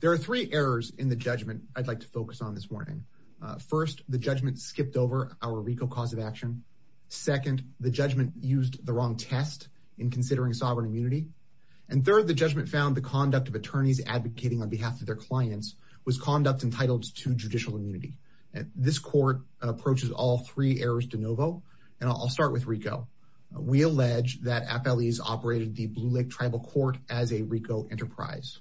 There are three errors in the judgment I'd like to focus on this morning. First, the judgment skipped over our RICO cause of action. Second, the judgment used the wrong test in considering sovereign immunity. And third, the judgment found the conduct of attorneys advocating on behalf of their clients was conduct entitled to judicial immunity. This court approaches all three errors de novo, and I'll start with RICO. We allege that FLEs operated the Blue Lake Tribal Court as a RICO enterprise.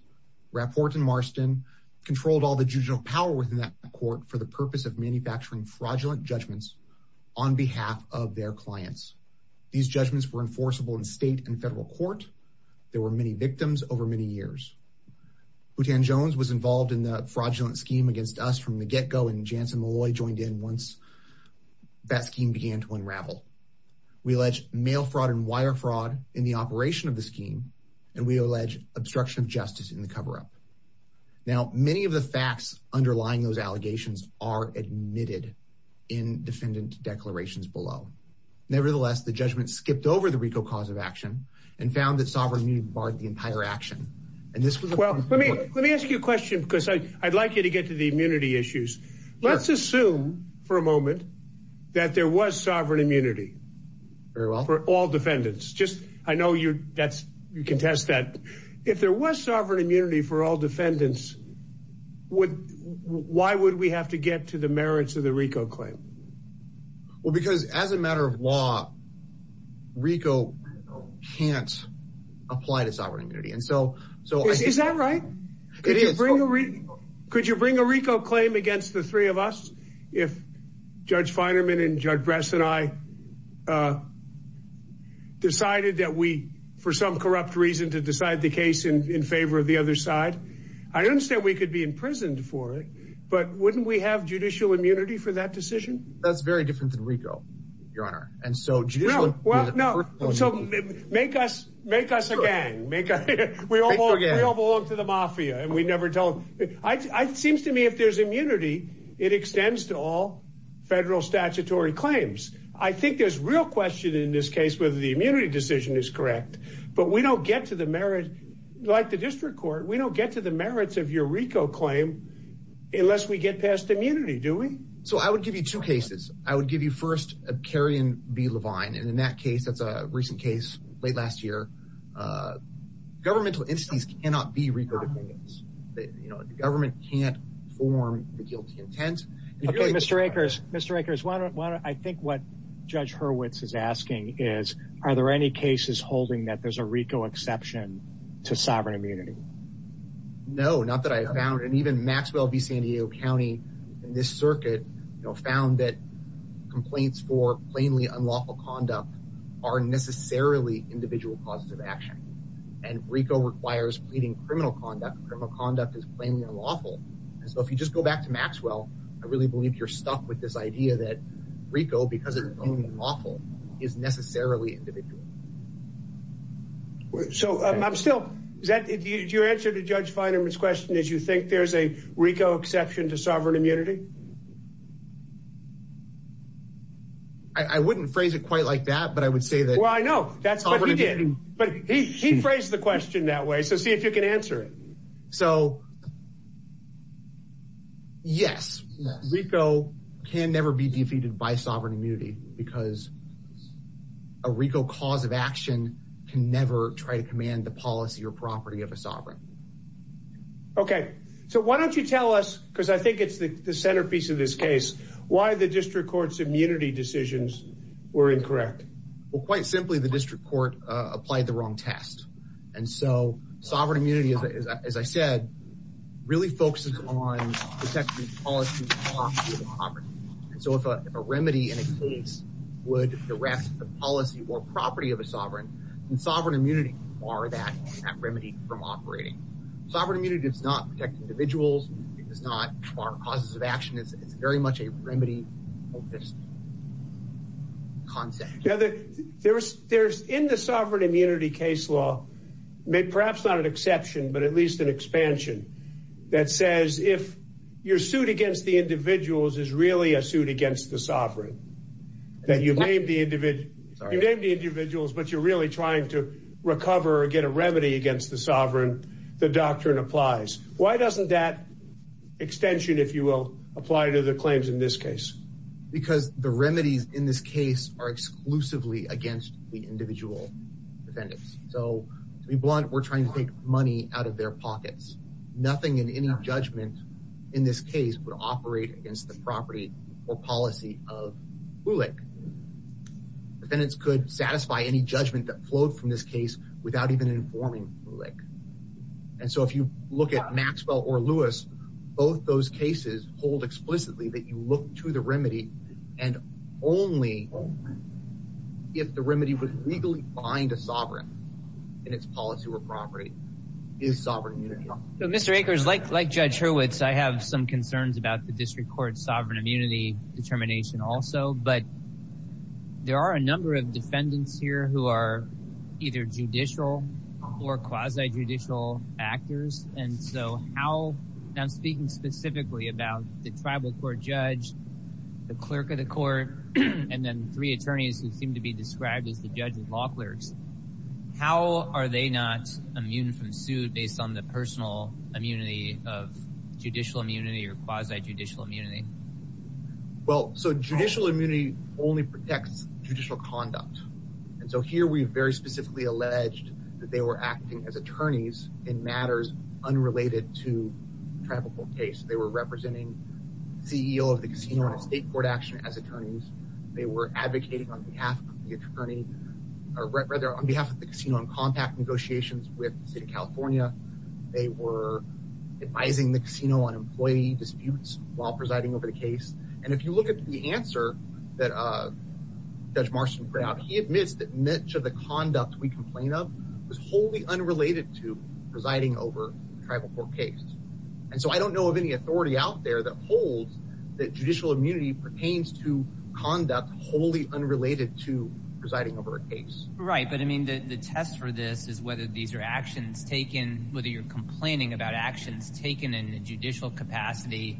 Rapport and Marston controlled all the judicial power within that court for the purpose of manufacturing fraudulent judgments on behalf of their clients. These judgments were enforceable in state and federal court. There were many victims over many years. Butan Jones was involved in the fraudulent scheme against us from the get-go, and Jansen Malloy joined in once that scheme began to unravel. We allege mail fraud and wire fraud in the operation of the scheme, and we allege obstruction of justice in the cover-up. Now, many of the facts underlying those allegations are admitted in defendant declarations below. Nevertheless, the judgment skipped over the RICO cause of action and found that sovereign immunity barred the entire action. And this was a... Let me ask you a question, because I'd like you to get to the immunity issues. Let's assume for a moment that there was sovereign immunity for all defendants. I know you contest that. If there was sovereign immunity for all defendants, why would we have to get to the merits of the RICO claim? Well, because as a matter of law, RICO can't apply to sovereign immunity. Is that right? It is. Could you bring a RICO claim against the three of us if Judge Feinerman and Judge Bress and I decided that we, for some corrupt reason, to decide the case in favor of the other side? I understand we could be imprisoned for it, but wouldn't we have judicial immunity for that decision? That's very different than RICO, Your Honor. And so judicial... Well, no. So make us a gang. We all belong to the mafia, and we never told... It seems to me if there's immunity, it extends to all federal statutory claims. I think there's real question in this case whether the immunity decision is correct, but we don't get to the merit, like the district court, we don't get to the merits of your RICO claim unless we get past immunity, do we? So I would give you two cases. I would give you first a Kerry v. Levine, and in that case, that's a recent case, late last year. Governmental entities cannot be RICO defendants. The government can't inform the guilty intent. Okay, Mr. Akers, I think what Judge Hurwitz is asking is, are there any cases holding that there's a RICO exception to sovereign immunity? No, not that I have found, and even Maxwell v. San Diego County in this circuit found that complaints for plainly unlawful conduct are necessarily individual causes of action, and RICO requires pleading criminal conduct. Criminal conduct is plainly unlawful, and so if you just go back to Maxwell, I really believe you're stuck with this idea that RICO, because it's plainly unlawful, is necessarily individual. So, I'm still, your answer to Judge Feinerman's question is you think there's a RICO exception to sovereign immunity? I wouldn't phrase it quite like that, but I would say that Well, I know, but he phrased the question that way, so see if you can answer it. Yes, RICO can never be defeated by sovereign immunity, because a RICO cause of action can never try to command the policy or property of a sovereign. Okay, so why don't you tell us, because I think it's the centerpiece of this case, why the District Court's immunity decisions were incorrect. Well, quite simply, the District Court applied the wrong test, and so sovereign immunity, as I said, really focuses on protecting the policy or property of a sovereign. And so if a remedy in a case would direct the policy or property of a sovereign, then sovereign immunity would bar that remedy from operating. Sovereign immunity does not protect individuals, it does not bar causes of action, it's very much a remedy concept. In the sovereign immunity case law, perhaps not an exception, but at least an expansion, that says if your suit against the individuals is really a suit against the sovereign, that you name the individuals, but you're really trying to recover or get a remedy against the sovereign, the doctrine applies. Why doesn't that extension, if you will, apply to the claims in this case? Because the remedies in this case are exclusively against the individual defendants. So to be blunt, we're trying to take money out of their pockets. Nothing in any judgment in this case would operate against the property or policy of BULIC. Defendants could satisfy any judgment that flowed from this case without even informing BULIC. And so if you look at Maxwell or Lewis, both those cases hold explicitly that you look to the remedy and only if the remedy would legally bind a sovereign in its policy or property is sovereign immunity. Mr. Akers, like Judge Hurwitz, I have some concerns about the District Court's sovereign immunity determination also, but there are a number of defendants here who are either judicial or quasi-judicial actors, and so how I'm speaking specifically about the Tribal Court judge, the clerk of the court, and then three attorneys who seem to be described as the judge of law clerks. How are they not immune from suit based on the personal immunity of judicial immunity or quasi-judicial immunity? Well, so judicial immunity only protects judicial conduct. And so here we very specifically alleged that they were acting as attorneys in matters unrelated to the Tribal Court case. They were representing the CEO of the casino on a state court action as attorneys. They were advocating on behalf of the casino on compact negotiations with the state of California. They were advising the casino on employee disputes while presiding over the case. And if you look at the answer that Judge Marston put out, he admits that much of the conduct we complain of was wholly unrelated to presiding over the Tribal Court case. And so I don't know of any authority out there that holds that judicial immunity pertains to conduct wholly unrelated to presiding over a case. Right, but I mean the test for this is whether these are actions taken, whether you're complaining about actions taken in a judicial capacity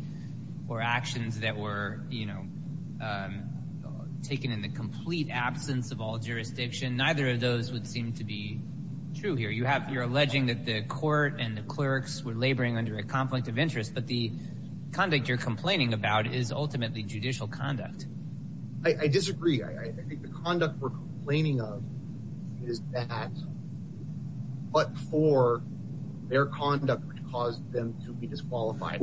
or actions that were, you know, taken in the complete absence of all jurisdiction. Neither of those would seem to be true here. You're alleging that the court and the clerks were laboring under a conflict of interest, but the conduct you're complaining about is ultimately judicial conduct. I disagree. I think the conduct we're complaining of is that what for their conduct would cause them to be disqualified.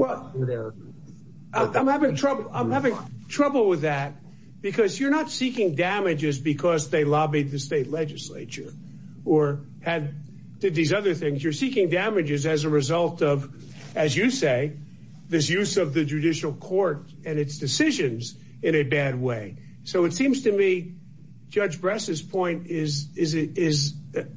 I'm having trouble with that because you're not seeking damages because they did this or did these other things. You're seeking damages as a result of, as you say, this use of the judicial court and its decisions in a bad way. So it seems to me Judge Bress's point is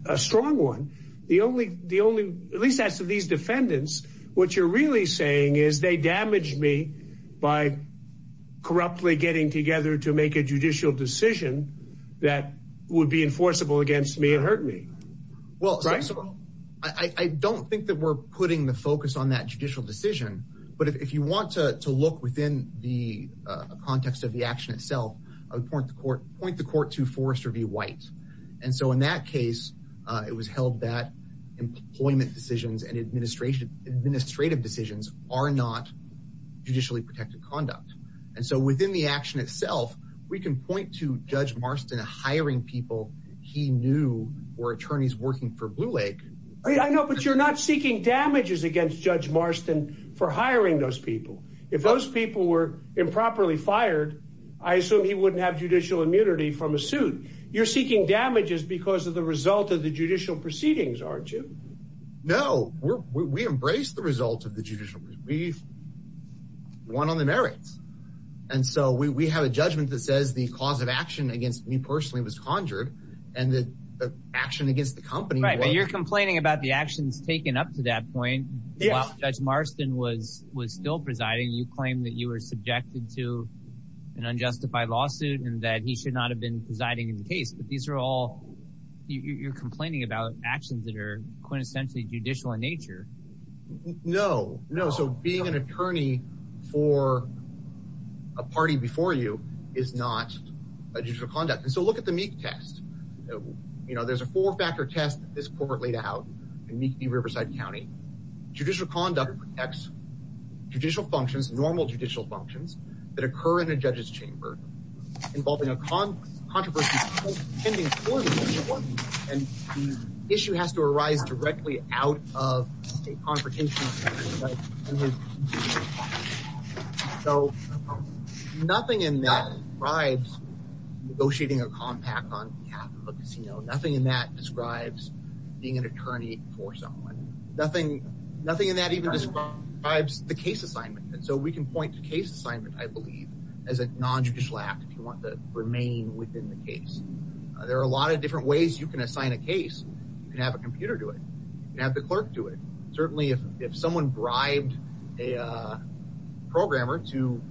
a strong one. At least as to these defendants, what you're really saying is they damaged me by corruptly getting together to make a judicial decision that would be enforceable against me and hurt me. I don't think that we're putting the focus on that judicial decision but if you want to look within the context of the action itself, I would point the court to Forrester v. White. And so in that case, it was held that employment decisions and administrative decisions are not judicially protected conduct. And so within the action itself, we can point to Judge Marston hiring people he knew were attorneys working for Blue Lake. I know, but you're not seeking damages against Judge Marston for hiring those people. If those people were improperly fired, I assume he wouldn't have judicial immunity from a suit. You're seeking damages because of the result of the judicial proceedings, aren't you? No, we embrace the result of the judicial proceedings. We won on the merits. And so we have a judgment that says the cause of action against me personally was conjured and the action against the company was. Right, but you're complaining about the actions taken up to that point while Judge Marston was still presiding. You claimed that you were subjected to an unjustified lawsuit and that he should not have been presiding in the case. But these are all, you're complaining about actions that are quintessentially judicial in nature. No, no. So being an attorney for a party before you is not a judicial conduct. And so look at the Meek test. There's a four-factor test that this court laid out in Meek v. Riverside County. Judicial conduct protects judicial functions, normal judicial functions, that occur in a judge's chamber involving a controversy pending for the court. And the issue has to arise directly out of a confrontation So, nothing in that describes negotiating a compact on behalf of a casino. Nothing in that describes being an attorney for someone. Nothing in that even describes the case assignment. And so we can point to case assignment, I believe, as a non-judicial act if you want to remain within the case. There are a lot of different ways you can assign a case. You can have a computer do it. You can have the clerk do it. Certainly if someone bribed a programmer to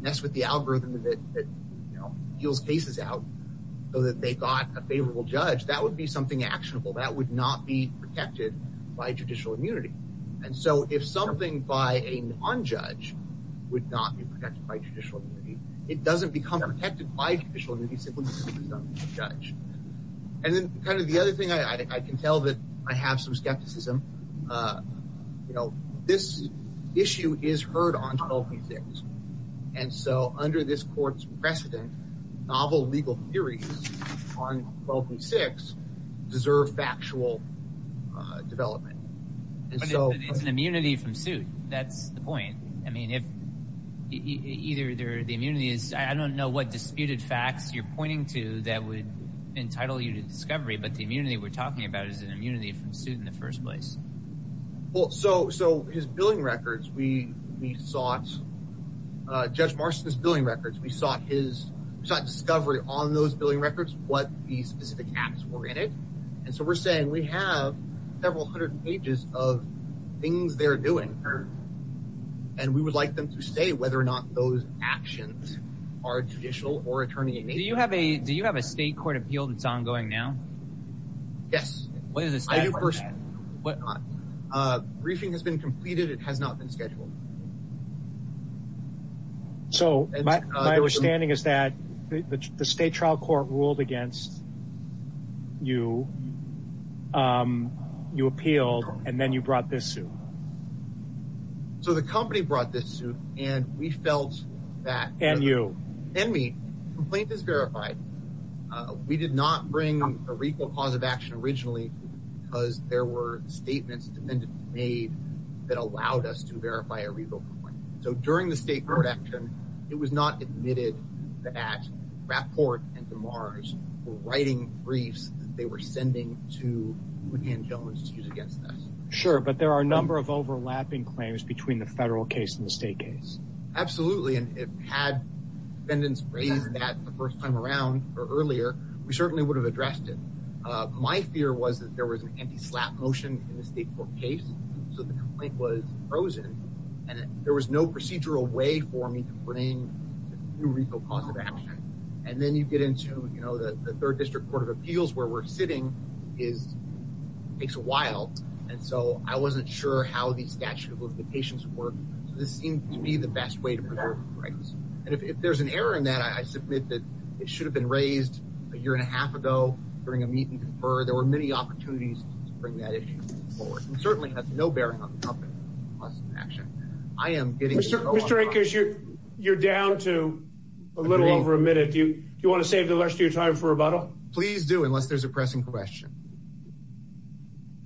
mess with the algorithm that deals cases out so that they got a favorable judge, that would be something actionable. That would not be protected by judicial immunity. And so if something by a non-judge would not be protected by judicial immunity, it doesn't become protected by judicial immunity simply because it's done by a judge. And then kind of the other thing I can tell that I have some skepticism, this issue is heard on 12th and 6th and so under this court's precedent, novel legal theories on 12th and 6th deserve factual development. But it's an immunity from suit. That's the point. I mean, if either the immunity is, I don't know what disputed facts you're pointing to that would entitle you to discovery, but the immunity we're talking about is an immunity from suit in the first place. Well, so his billing records, we sought, Judge Marston's billing records, we sought his discovery on those billing records what the specific acts were in it. And so we're saying we have several hundred pages of things they're doing. And we would like them to say whether or not those actions are judicial or attorney-in-chief. Do you have a state court appeal that's ongoing now? Yes. Briefing has been completed. It has not been scheduled. So my understanding is that the state trial court ruled against you. You appealed and then you brought this suit. So the company brought this suit and we felt that. And you? And me. Complaint is verified. We did not bring a recall cause of action originally because there were statements made that allowed us to verify a recall complaint. So during the state court action, it was not admitted that Rapport and DeMars were writing briefs that they were sending to Woodhand Jones to use against us. Sure, but there are a number of overlapping claims between the federal case and the state case. Absolutely. And if had defendants raised that the first time around or earlier, we certainly would have addressed it. My fear was that there was an anti-slap motion in the state court case. So the complaint was frozen and there was no procedural way for me to bring a new recall cause of action. And then you get into the third district court of appeals where we're sitting takes a while. And so I wasn't sure how these statute of limitations would be the best way to preserve the rights. And if there's an error in that, I submit that it should have been raised a year and a half ago during a meet and confer. There were many opportunities to bring that issue forward. And certainly has no bearing on the company's cause of action. Mr. Akers, you're down to a little over a minute. Do you want to save the rest of your time for rebuttal? Please do, unless there's a pressing question.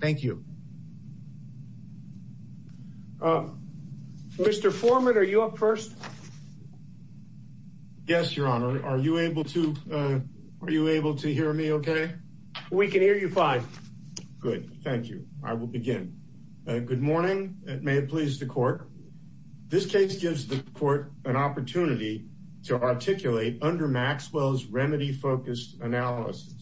Thank you. Mr. Foreman, are you up first? Yes, Your Honor. Are you able to hear me okay? We can hear you fine. Good. Thank you. I will begin. Good morning. May it please the court. This case gives the court an opportunity to articulate under Maxwell's remedy-focused analysis.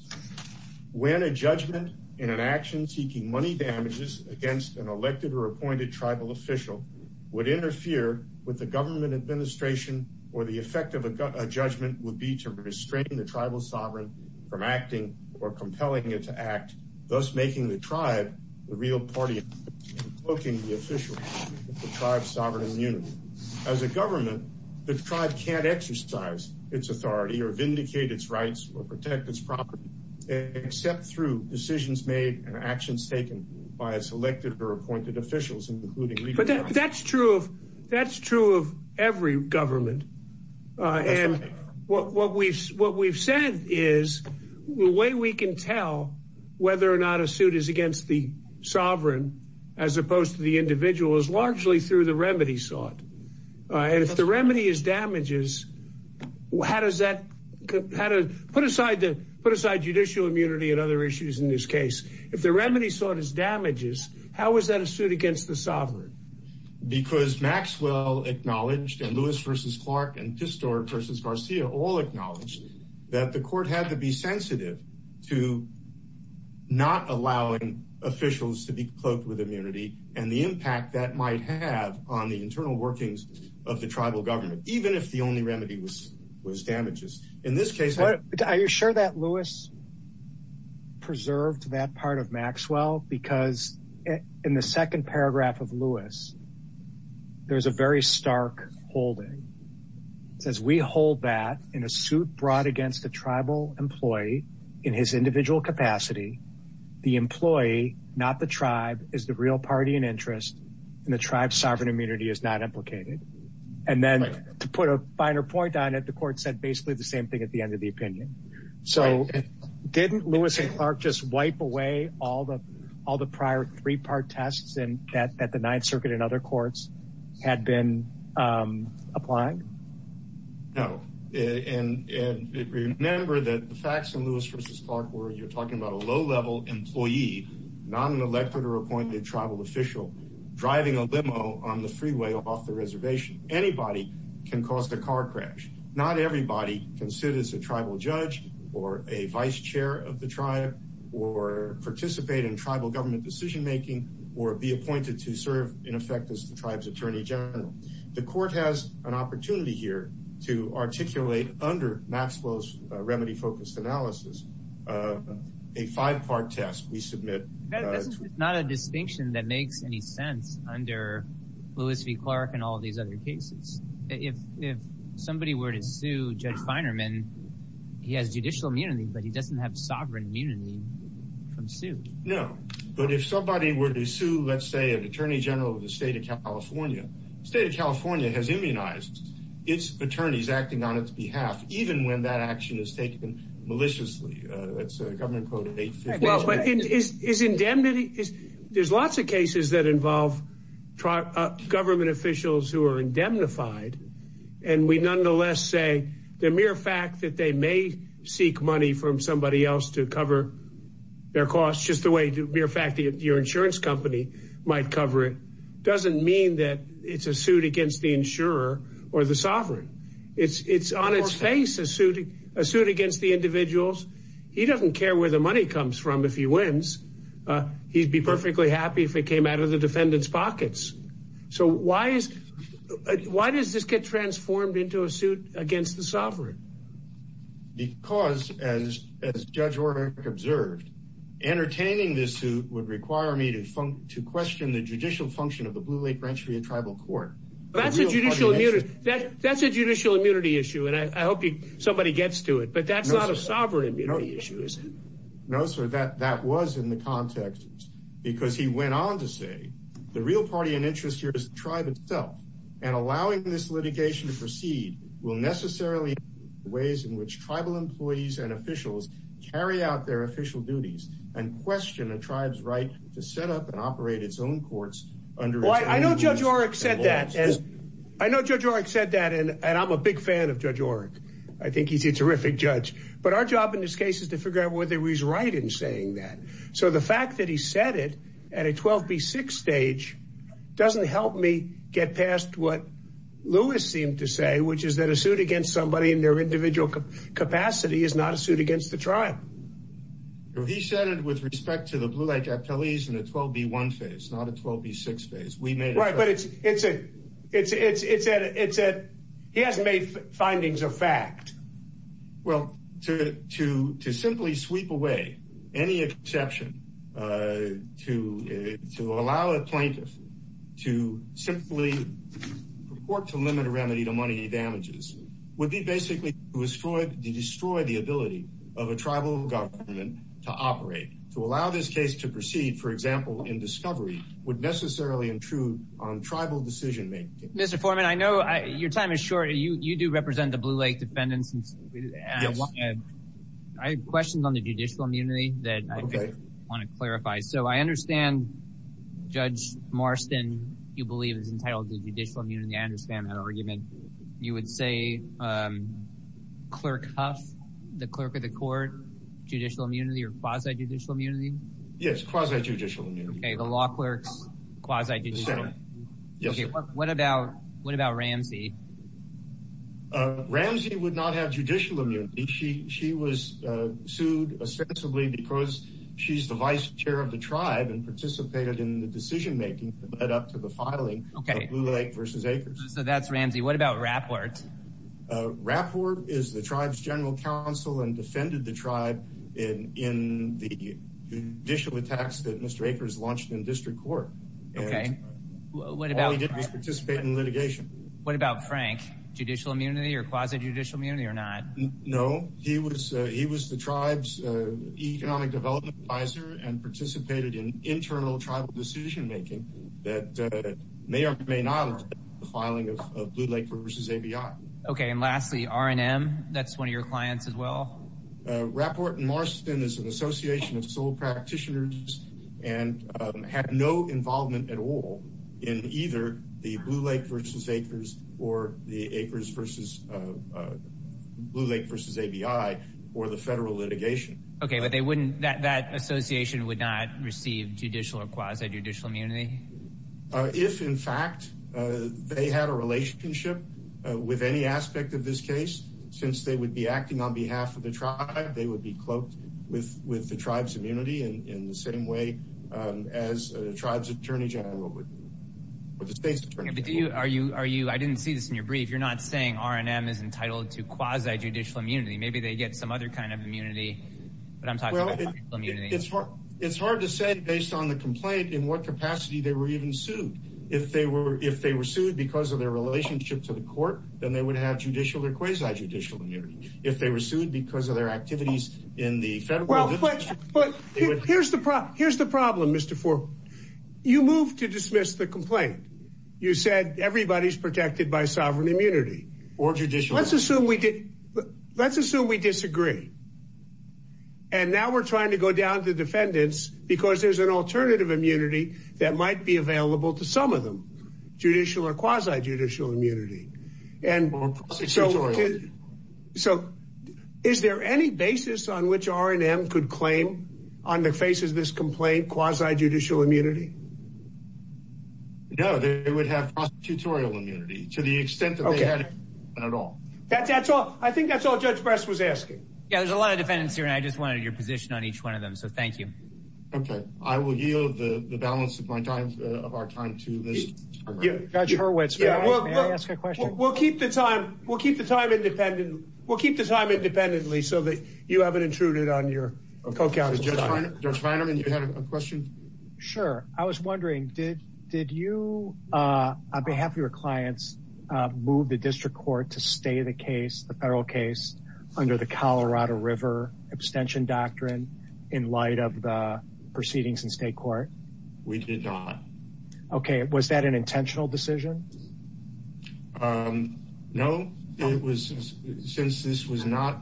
When a judgment in an action seeking money damages against an elected or appointed tribal official would interfere with the government administration or the effect of a judgment would be to restrain the tribal sovereign from acting or compelling it to act, thus making the tribe the real party and cloaking the official of the tribe's sovereign immunity. As a government, the tribe can't exercise its authority or vindicate its rights or protect its property except through decisions made and actions taken by a selected or appointed official, including legal action. That's true of every government. What we've said is the way we can tell whether or not a suit is against the sovereign as opposed to the individual is largely through the remedy sought. If the remedy is damages, how does that put aside judicial immunity and other issues in this case? If the remedy sought is damages, how is that a suit against the sovereign? Because Maxwell acknowledged and Lewis versus Clark and Pistor versus Garcia all acknowledged that the court had to be sensitive to not allowing officials to be cloaked with immunity and the impact that might have on the internal workings of the tribal government, even if the only in this case, are you sure that Lewis preserved that part of Maxwell? Because in the second paragraph of Lewis, there's a very stark holding says we hold that in a suit brought against the tribal employee in his individual capacity. The employee, not the tribe, is the real party and interest in the tribe. Sovereign immunity is not implicated. And then to put a finer point on it, the court said basically the same thing at the end of the opinion. So didn't Lewis and Clark just wipe away all the prior three-part tests that the Ninth Circuit and other courts had been applying? No. And remember that the facts in Lewis versus Clark were you're talking about a low-level employee, not an elected or appointed tribal official, driving a limo on the freeway off the reservation. Anybody can cause a car crash. Not everybody can sit as a tribal judge or a vice chair of the tribe or participate in tribal government decision-making or be appointed to serve, in effect, as the tribe's attorney general. The court has an opportunity here to articulate under Maxwell's remedy focused analysis a five-part test we submit It's not a distinction that makes any sense under Lewis v. Clark and all these other cases. If somebody were to sue Judge Feinerman, he has judicial immunity, but he doesn't have sovereign immunity from sue. No. But if somebody were to sue, let's say, an attorney general of the state of California, the state of California has immunized its attorneys acting on its behalf, even when that action is taken maliciously. That's a government quote of 815. Well, but is indemnity, there's lots of cases that involve government officials who are indemnified, and we nonetheless say the mere fact that they may seek money from somebody else to cover their costs just the way the mere fact that your insurance company might cover it doesn't mean that it's a suit against the insurer or the sovereign. It's on its face a suit against the individuals. He doesn't care where the money comes from if he wins. He'd be perfectly happy if it came out of the defendant's pockets. So why is, why does this get transformed into a suit against the sovereign? Because, as Judge O'Rourke observed, entertaining this suit would require me to question the judicial function of the Blue Lake Rancheria Tribal Court. That's a judicial immunity issue, and I hope somebody gets to it, but that's not a sovereign immunity issue, is it? No, sir, that was in the context, because he went on to say, the real party and interest here is the tribe itself, and allowing this litigation to proceed will necessarily influence the ways in which tribal employees and officials carry out their official duties and question a tribe's right to set up and operate its own courts under its own laws. Well, I know Judge O'Rourke said that, and I'm a big fan of Judge O'Rourke. I think he's a terrific judge. But our job in this case is to figure out whether he's right in saying that. So the fact that he said it at a 12-B-6 stage doesn't help me get past what Lewis seemed to say, which is that a suit against somebody in their individual capacity is not a suit against the tribe. He said it with respect to the Blue Lake appellees in a 12-B-1 phase, not a 12-B-6 phase. Right, but it's, it's a, it's a, he hasn't made findings of fact. Well, to simply sweep away any exception to allow a plaintiff to simply purport to limit a remedy to money damages would be basically to destroy the ability of a tribal government to operate. To allow this case to proceed, for example, in discovery, would necessarily intrude on tribal decision-making. Mr. Foreman, I know your time is short. You do represent the Blue Lake defendants. I have questions on the judicial immunity that I want to clarify. So I understand Judge Marston, you believe is entitled to judicial immunity. I understand that argument. You would say Clerk Huff, the clerk of the court, judicial immunity or quasi-judicial immunity? Yes, quasi-judicial immunity. Okay, the law clerk's quasi-judicial immunity. Okay, what about, what about Ramsey? Ramsey would not have judicial immunity. She was sued ostensibly because she's the vice chair of the tribe and participated in the decision-making that led up to the filing of Blue Lake v. Akers. So that's Ramsey. What about Rapwort? Rapwort is the tribe's general counsel and defended the tribe in the judicial attacks that Mr. Akers launched in district court. Okay. All he did was participate in litigation. What about Frank? Judicial immunity or quasi-judicial immunity or not? No, he was the tribe's economic development advisor and participated in internal tribal decision-making that may or may not have led up to the filing of Blue Lake v. ABI. Okay, and lastly, R&M, that's one of your clients as well? Rapwort and Marston is an association of tribal practitioners and had no involvement at all in either the Blue Lake v. Akers or the Akers v. Blue Lake v. ABI or the federal litigation. Okay, but they wouldn't, that association would not receive judicial or quasi-judicial immunity? If in fact they had a relationship with any aspect of this case, since they would be acting on behalf of the tribe, they would be entitled to the tribe's immunity in the same way as a tribe's attorney general would, or the state's attorney general would. I didn't see this in your brief. You're not saying R&M is entitled to quasi-judicial immunity. Maybe they get some other kind of immunity, but I'm talking about quasi-judicial immunity. It's hard to say based on the complaint in what capacity they were even sued. If they were sued because of their relationship to the court, then they would have judicial or quasi-judicial immunity. If they were sued because of their relationship to the court, then they would have judicial or quasi-judicial immunity. Here's the problem, Mr. Foreman. You moved to dismiss the complaint. You said everybody's protected by sovereign immunity. Let's assume we disagree. And now we're trying to go down to defendants because there's an alternative immunity that might be available to some of them. Judicial or quasi-judicial immunity. More prosecutorial immunity. Is there any basis on which R&M could claim on the face of this complaint quasi-judicial immunity? No, they would have prosecutorial immunity to the extent that they had immunity at all. I think that's all Judge Brest was asking. There's a lot of defendants here, and I just wanted your position on each one of them, so thank you. I will yield the balance of our time to Judge Hurwitz. May I ask a question? We'll keep the time independently so that you haven't intruded on your co-counsel's time. Judge Feinerman, you had a question? Sure. I was wondering, did you, on behalf of your clients, move the district court to stay the case, the federal case, under the Colorado River abstention doctrine in light of the proceedings in state court? We did not. Okay. Was that an intentional decision? No. Since this was not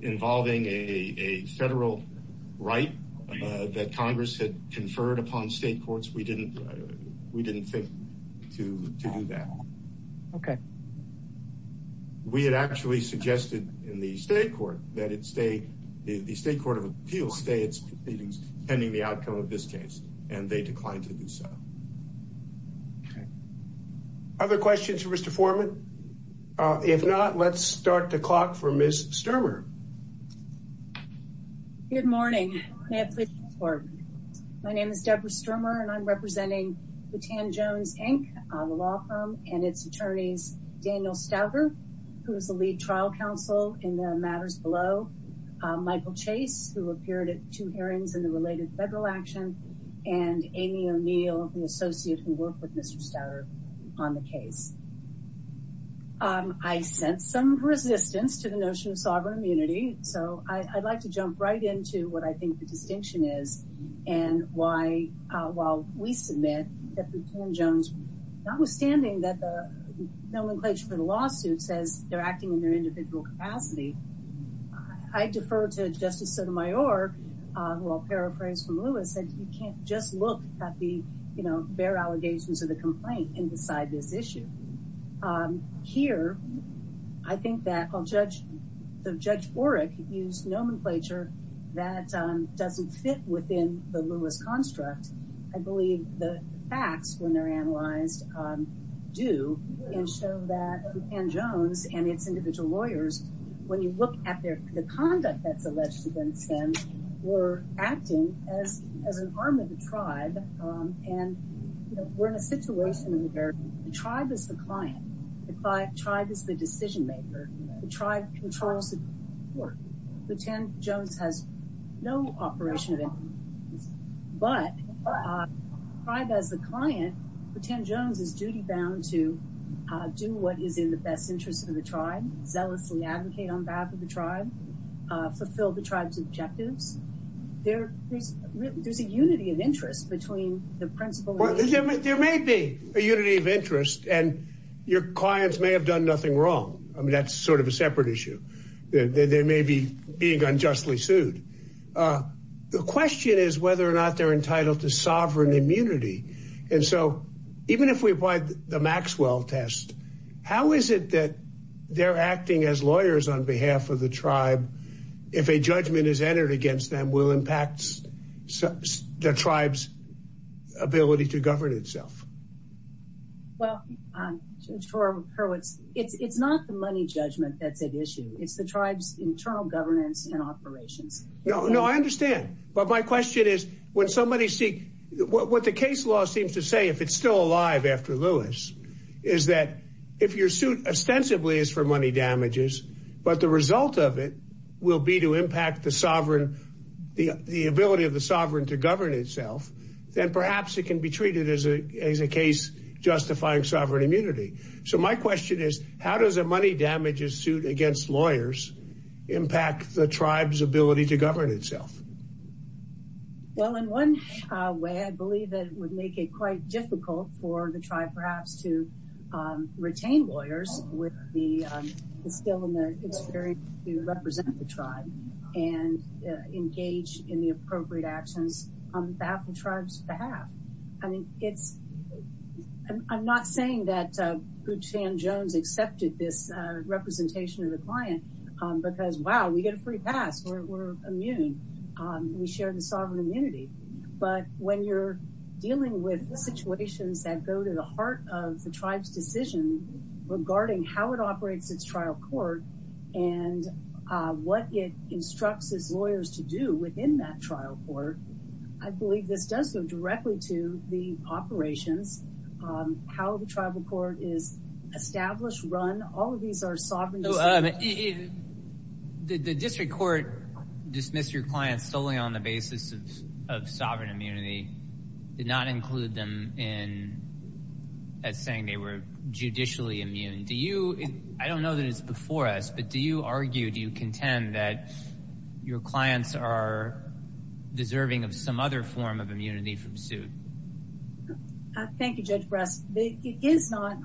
involving a federal right that Congress had conferred upon state courts, we didn't think to do that. We had actually suggested in the state court that the state court of appeals stay its proceedings, pending the outcome of this case, and they declined to do so. Okay. Other questions for Mr. Foreman? If not, let's start the clock for Ms. Stermer. Good morning. My name is Deborah Stermer, and I'm representing Boutin Jones, Inc., the law firm, and its attorneys, Daniel Stouffer, who is the lead trial counsel in the matters below, Michael Chase, who appeared at two hearings in the related federal action, and Amy O'Neill, the associate who worked with Mr. Stouffer on the case. I sense some resistance to the notion of sovereign immunity, so I'd like to jump right into what I think the distinction is and why, while we submit that Boutin Jones, notwithstanding that the nomenclature for the lawsuit says they're acting in their individual capacity, I defer to Justice Sotomayor, who I'll paraphrase from Lewis, that you can't just look at the bare allegations of the complaint and decide this issue. Here, I think that while Judge Borick used nomenclature that doesn't fit within the Lewis construct, I believe the facts, when they're analyzed, do, and show that Boutin Jones and its individual lawyers, when you look at the conduct that's alleged against them, were acting as an arm of the tribe, and we're in a situation where the tribe is the client, the tribe is the decision maker, the tribe controls the court. Boutin Jones has no operation of any kind, but the tribe as the client, Boutin Jones is duty-bound to do what is in the best interest of the tribe, zealously advocate on behalf of the tribe, fulfill the tribe's objectives. There's a unity of interest between the principal... There may be a unity of interest, and your clients may have done nothing wrong. That's sort of a separate issue. They may be being unjustly sued. The question is whether or not they're entitled to sovereign immunity, and so even if we apply the Maxwell test, how is it that they're acting as lawyers on behalf of the tribe if a judgment is entered against them will impact the tribe's ability to govern itself? Well, Judge Tora Hurwitz, it's not the money judgment that's at issue. It's the tribe's internal governance and operations. No, I understand, but my question is, when somebody seeks... What the case law seems to say, if it's still alive after Lewis, is that if your suit ostensibly is for money damages, but the result of it will be to impact the ability of the sovereign to govern itself, then perhaps it can be treated as a case justifying sovereign immunity. So my question is, how does a money damages suit against lawyers impact the tribe's ability to govern itself? Well, in one way, I believe that it would make it quite difficult for the tribe perhaps to retain lawyers with the skill and the experience to represent the tribe and engage in the appropriate actions on behalf of the tribe's behalf. I'm not saying that Butch Van Jones accepted this representation of the client because, wow, we get a free pass. We're immune. We share the sovereign immunity. But when you're dealing with situations that go to the heart of the tribe's decision regarding how it operates its trial court and what it instructs its lawyers to do within that trial court, I believe this does go directly to the operations, how the trial court is established, run. All of these are sovereign... The district court dismissed your clients solely on the basis of sovereign immunity did not include them in saying they were judicially immune. I don't know that it's before us, but do you argue, do you contend that your clients are deserving of some other form of immunity from suit? Thank you, Judge Bress. It is not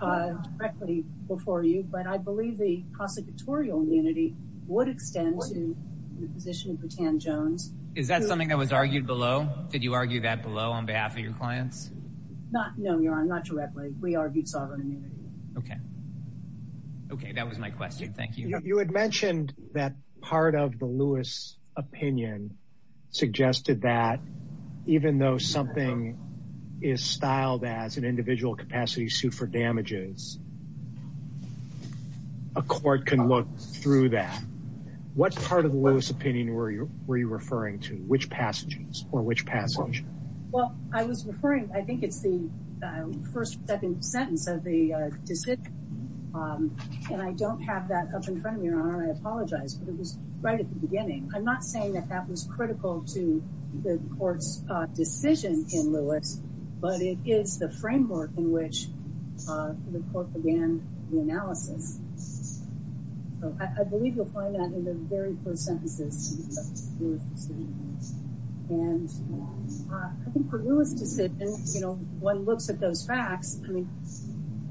directly before you, but I believe the prosecutorial immunity would extend to the position of Butch Van Jones. Is that something that was argued below? Did you argue that below on behalf of your clients? No, Your Honor, not directly. We argued sovereign immunity. That was my question. Thank you. You had mentioned that part of the Lewis opinion suggested that even though something is styled as an individual capacity to be sued for damages, a court can look through that. What part of the Lewis opinion were you referring to? Which passages or which passage? I was referring, I think it's the first or second sentence of the decision, and I don't have that up in front of me, Your Honor. I apologize, but it was right at the beginning. I'm not saying that that was critical to the court's decision in Lewis, but it is the framework in which the court began the analysis. I believe you'll find that in the very first sentences of the Lewis decision. I think for Lewis decisions, you know, one looks at those facts. I mean,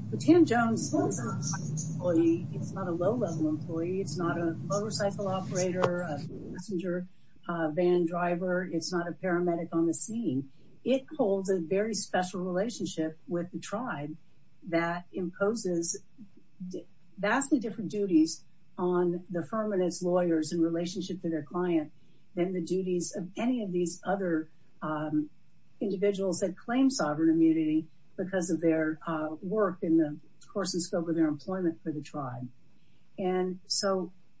Butch Van Jones is not an employee. He's not a low-level employee. He's not a motorcycle operator, a passenger, a van driver. He's not a paramedic on the scene. It holds a very special relationship with the tribe that imposes vastly different duties on the firm and its lawyers in relationship to their client than the duties of any of these other individuals that claim sovereign immunity because of their work in the course and scope of their employment for the tribe.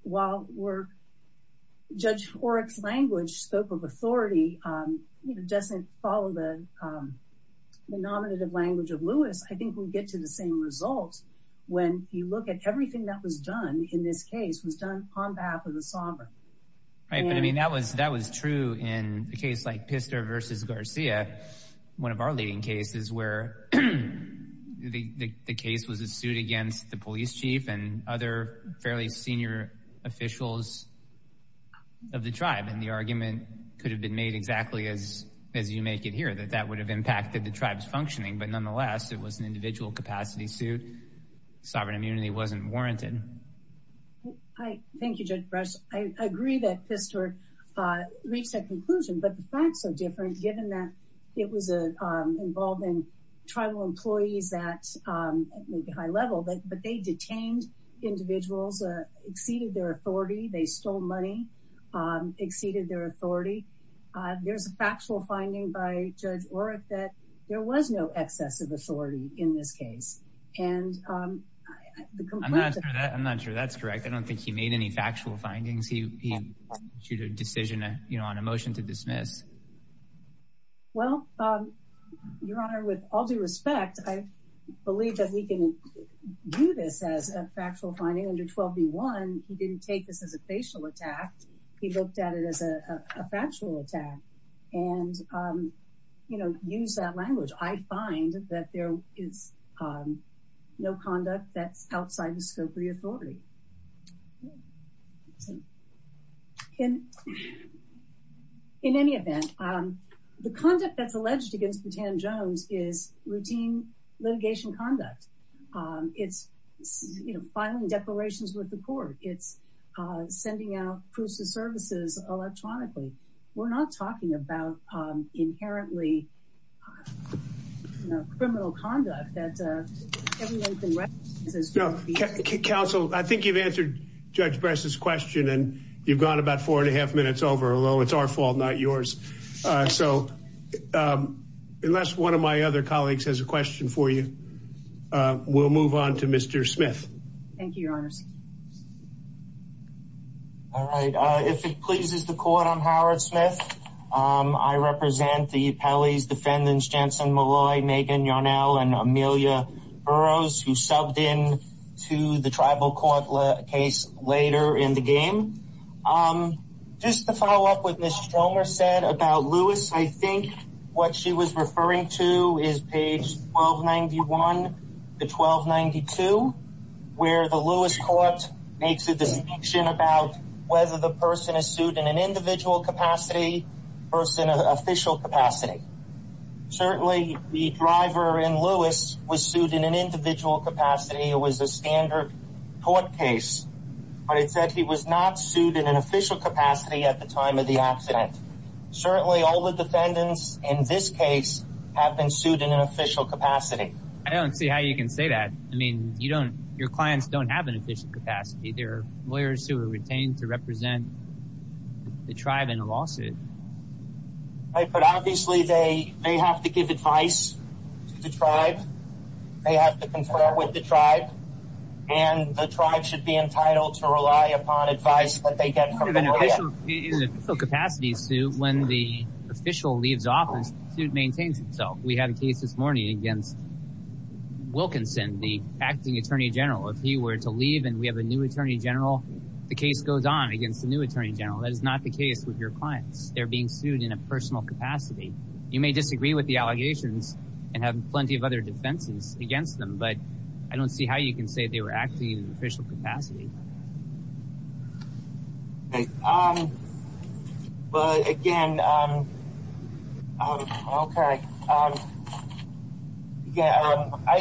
While Judge Oreck's language, scope of authority, doesn't follow the nominative language of Lewis, I think we'll get to the same result when you look at everything that was done in this case was done on behalf of the sovereign. Right, but I mean, that was true in a case like Pistor versus Garcia, one of our leading cases where the case was a suit against the police chief and other fairly senior officials of the tribe, and the argument could have been made exactly as you make it here, that that would have impacted the tribe's functioning, but nonetheless, it was an individual capacity suit. Sovereign immunity wasn't warranted. Thank you, Judge Brush. I agree that Pistor reached that conclusion, but the facts are different given that it was involved in tribal employees at maybe high level, but they detained individuals, exceeded their authority, they stole money, exceeded their authority. There's a factual finding by Judge Oreck that there was no excess of authority in this case. I'm not sure that's correct. I don't think he made any factual findings. He issued a decision on a motion to dismiss. Well, Your Honor, with all due respect, I believe that we can view this as a factual finding. Under 12v1, he didn't take this as a facial attack. He looked at it as a factual attack and used that language. I find that there is no conduct that's outside the scope of the authority. In any event, the conduct that's alleged against Butan Jones is routine litigation conduct. It's filing declarations with the court. It's sending out proofs of services electronically. We're not talking about inherently criminal conduct. Counsel, I think you've answered Judge Brush's question and you've gone about four and a half minutes over, although it's our fault, not yours. Unless one of my other colleagues has a question for you, we'll move on to Mr. Smith. Thank you, Your Honor. If it pleases the court, I'm Howard Smith. I represent the Pelleys, defendants Jansen Molloy, Megan Yarnell, and Amelia Burroughs, who subbed in to the tribal court case later in the game. Just to follow up what Ms. Stromer said about Lewis, I think what she was referring to is page 1291 to 1292, where the Lewis court makes a distinction about whether the person is sued in an individual capacity or an official capacity. Certainly the driver in Lewis was sued in an individual capacity. It was a standard court case, but it said he was not sued in an official capacity at the time of the accident. Certainly all the defendants in this case have been sued in an official capacity. I don't see how you can say that. Your clients don't have an official capacity. They're lawyers who are retained to represent the tribe in a lawsuit. But obviously they have to give advice to the tribe, they have to confer with the tribe, and the tribe should be entitled to rely upon advice that they get from the lawyer. In an official capacity suit, when the official leaves office, the suit maintains itself. We had a case this morning against Wilkinson, the acting Attorney General. If he were to leave and we have a new Attorney General, the case goes on against the new Attorney General. That is not the case with your clients. They're being sued in a personal capacity. You may disagree with the allegations and have plenty of other defenses against them, but I don't see how you can say they were acting in an official capacity. Okay. But again, I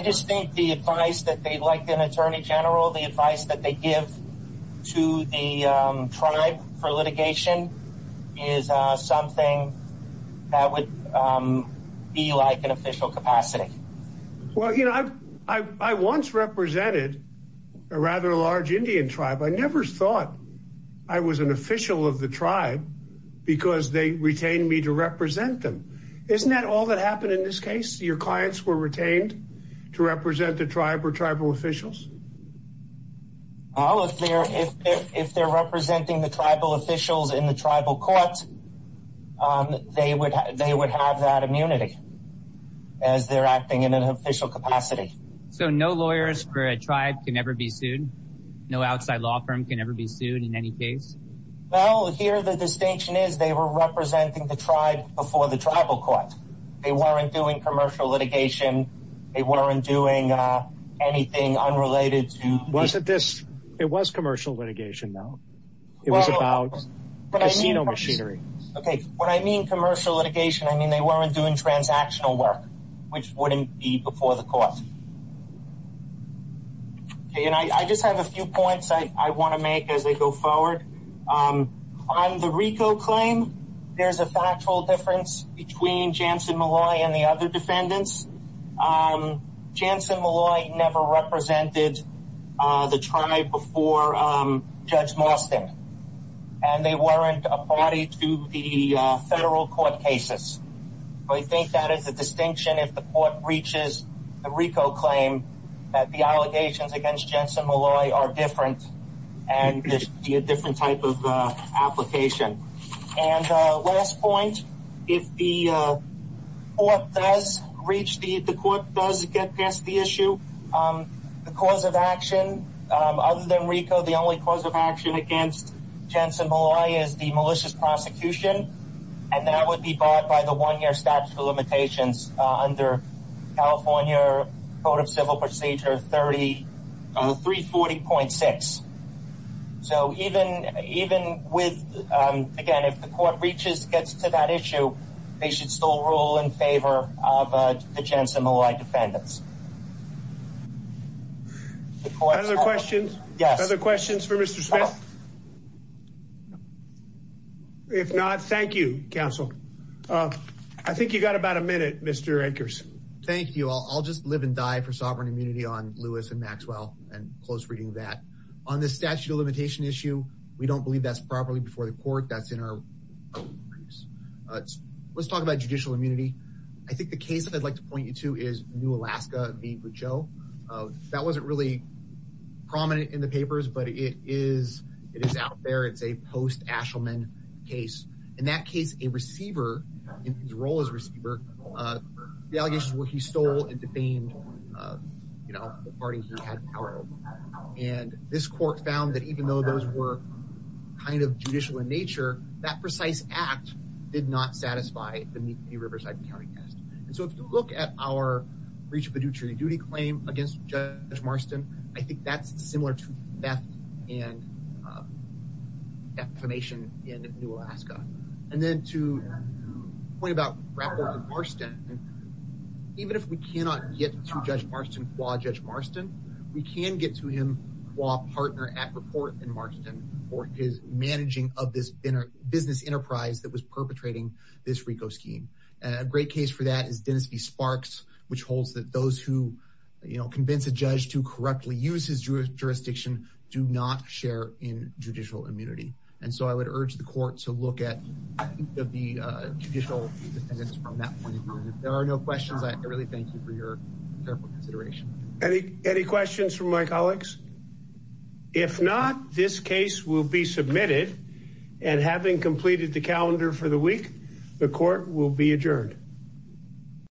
just think the advice that they, like an Attorney General, the advice that they give to the tribe for litigation is something that would be like an official capacity. Well, you know, I once represented a rather large Indian tribe. I never thought I was an official of the tribe because they retained me to represent them. Isn't that all that happened in this case? Your clients were retained to represent the tribe or tribal officials? Oh, if they're representing the tribal officials in the tribal courts, they would have that immunity as they're acting in an official capacity. So no lawyers for a tribe can ever be sued? No outside law firm can ever be sued in any case? Well, here the distinction is they were representing the tribe before the tribal court. They weren't doing commercial litigation. They weren't doing anything unrelated to... It was commercial litigation though. It was about casino machinery. Okay. When I mean commercial litigation, I mean they weren't doing transactional work, which wouldn't be before the court. And I just have a few points I want to make as I go forward. On the RICO claim, there's a factual difference between Jansen Malloy and the other defendants. Jansen Malloy never represented the tribe before Judge Marston. And they weren't a party to the federal court cases. I think that is a distinction if the court reaches the RICO claim that the allegations against Jansen Malloy are different and this would be a different type of application. And last point, if the court does get past the issue, the cause of action, other than RICO, the only cause of action against Jansen Malloy is the malicious prosecution. And that would be bought by the one-year statute of limitations under California Code of Civil Procedure 340.6. So even with... Again, if the court reaches, gets to that issue, they should still rule in favor of the Jansen Malloy defendants. Other questions? Yes. Other questions for Mr. Smith? If not, thank you, counsel. I think you've got about a minute, Mr. Akers. Thank you. I'll just live and die for sovereign immunity on Lewis and Maxwell and close reading of that. On the statute of limitation issue, we don't believe that's properly before the court. That's in our... Let's talk about judicial immunity. I think the case that I'd like to point you to is New Alaska v. Pacheco. That wasn't really prominent in the papers, but it is out there. It's a post-Ashelman case. In that case, a receiver, in his role as receiver, the allegations were he stole and defamed the party he had power over. And this court found that even though those were kind of judicial in nature, that precise act did not satisfy the Meek v. Riverside County test. And so if you look at our breach of a duty claim against Judge to theft and defamation in New Alaska. And then to point about Rappaport v. Marston, even if we cannot get to Judge Marston qua Judge Marston, we can get to him qua partner at Rappaport v. Marston for his managing of this business enterprise that was perpetrating this RICO scheme. A great case for that is Dennis v. Sparks, which holds that those who convince a judge to correctly use his jurisdiction do not share in judicial immunity. And so I would urge the court to look at the judicial independence from that point of view. And if there are no questions, I really thank you for your careful consideration. Any questions from my colleagues? If not, this case will be submitted and having completed the calendar for the week, the court will be adjourned.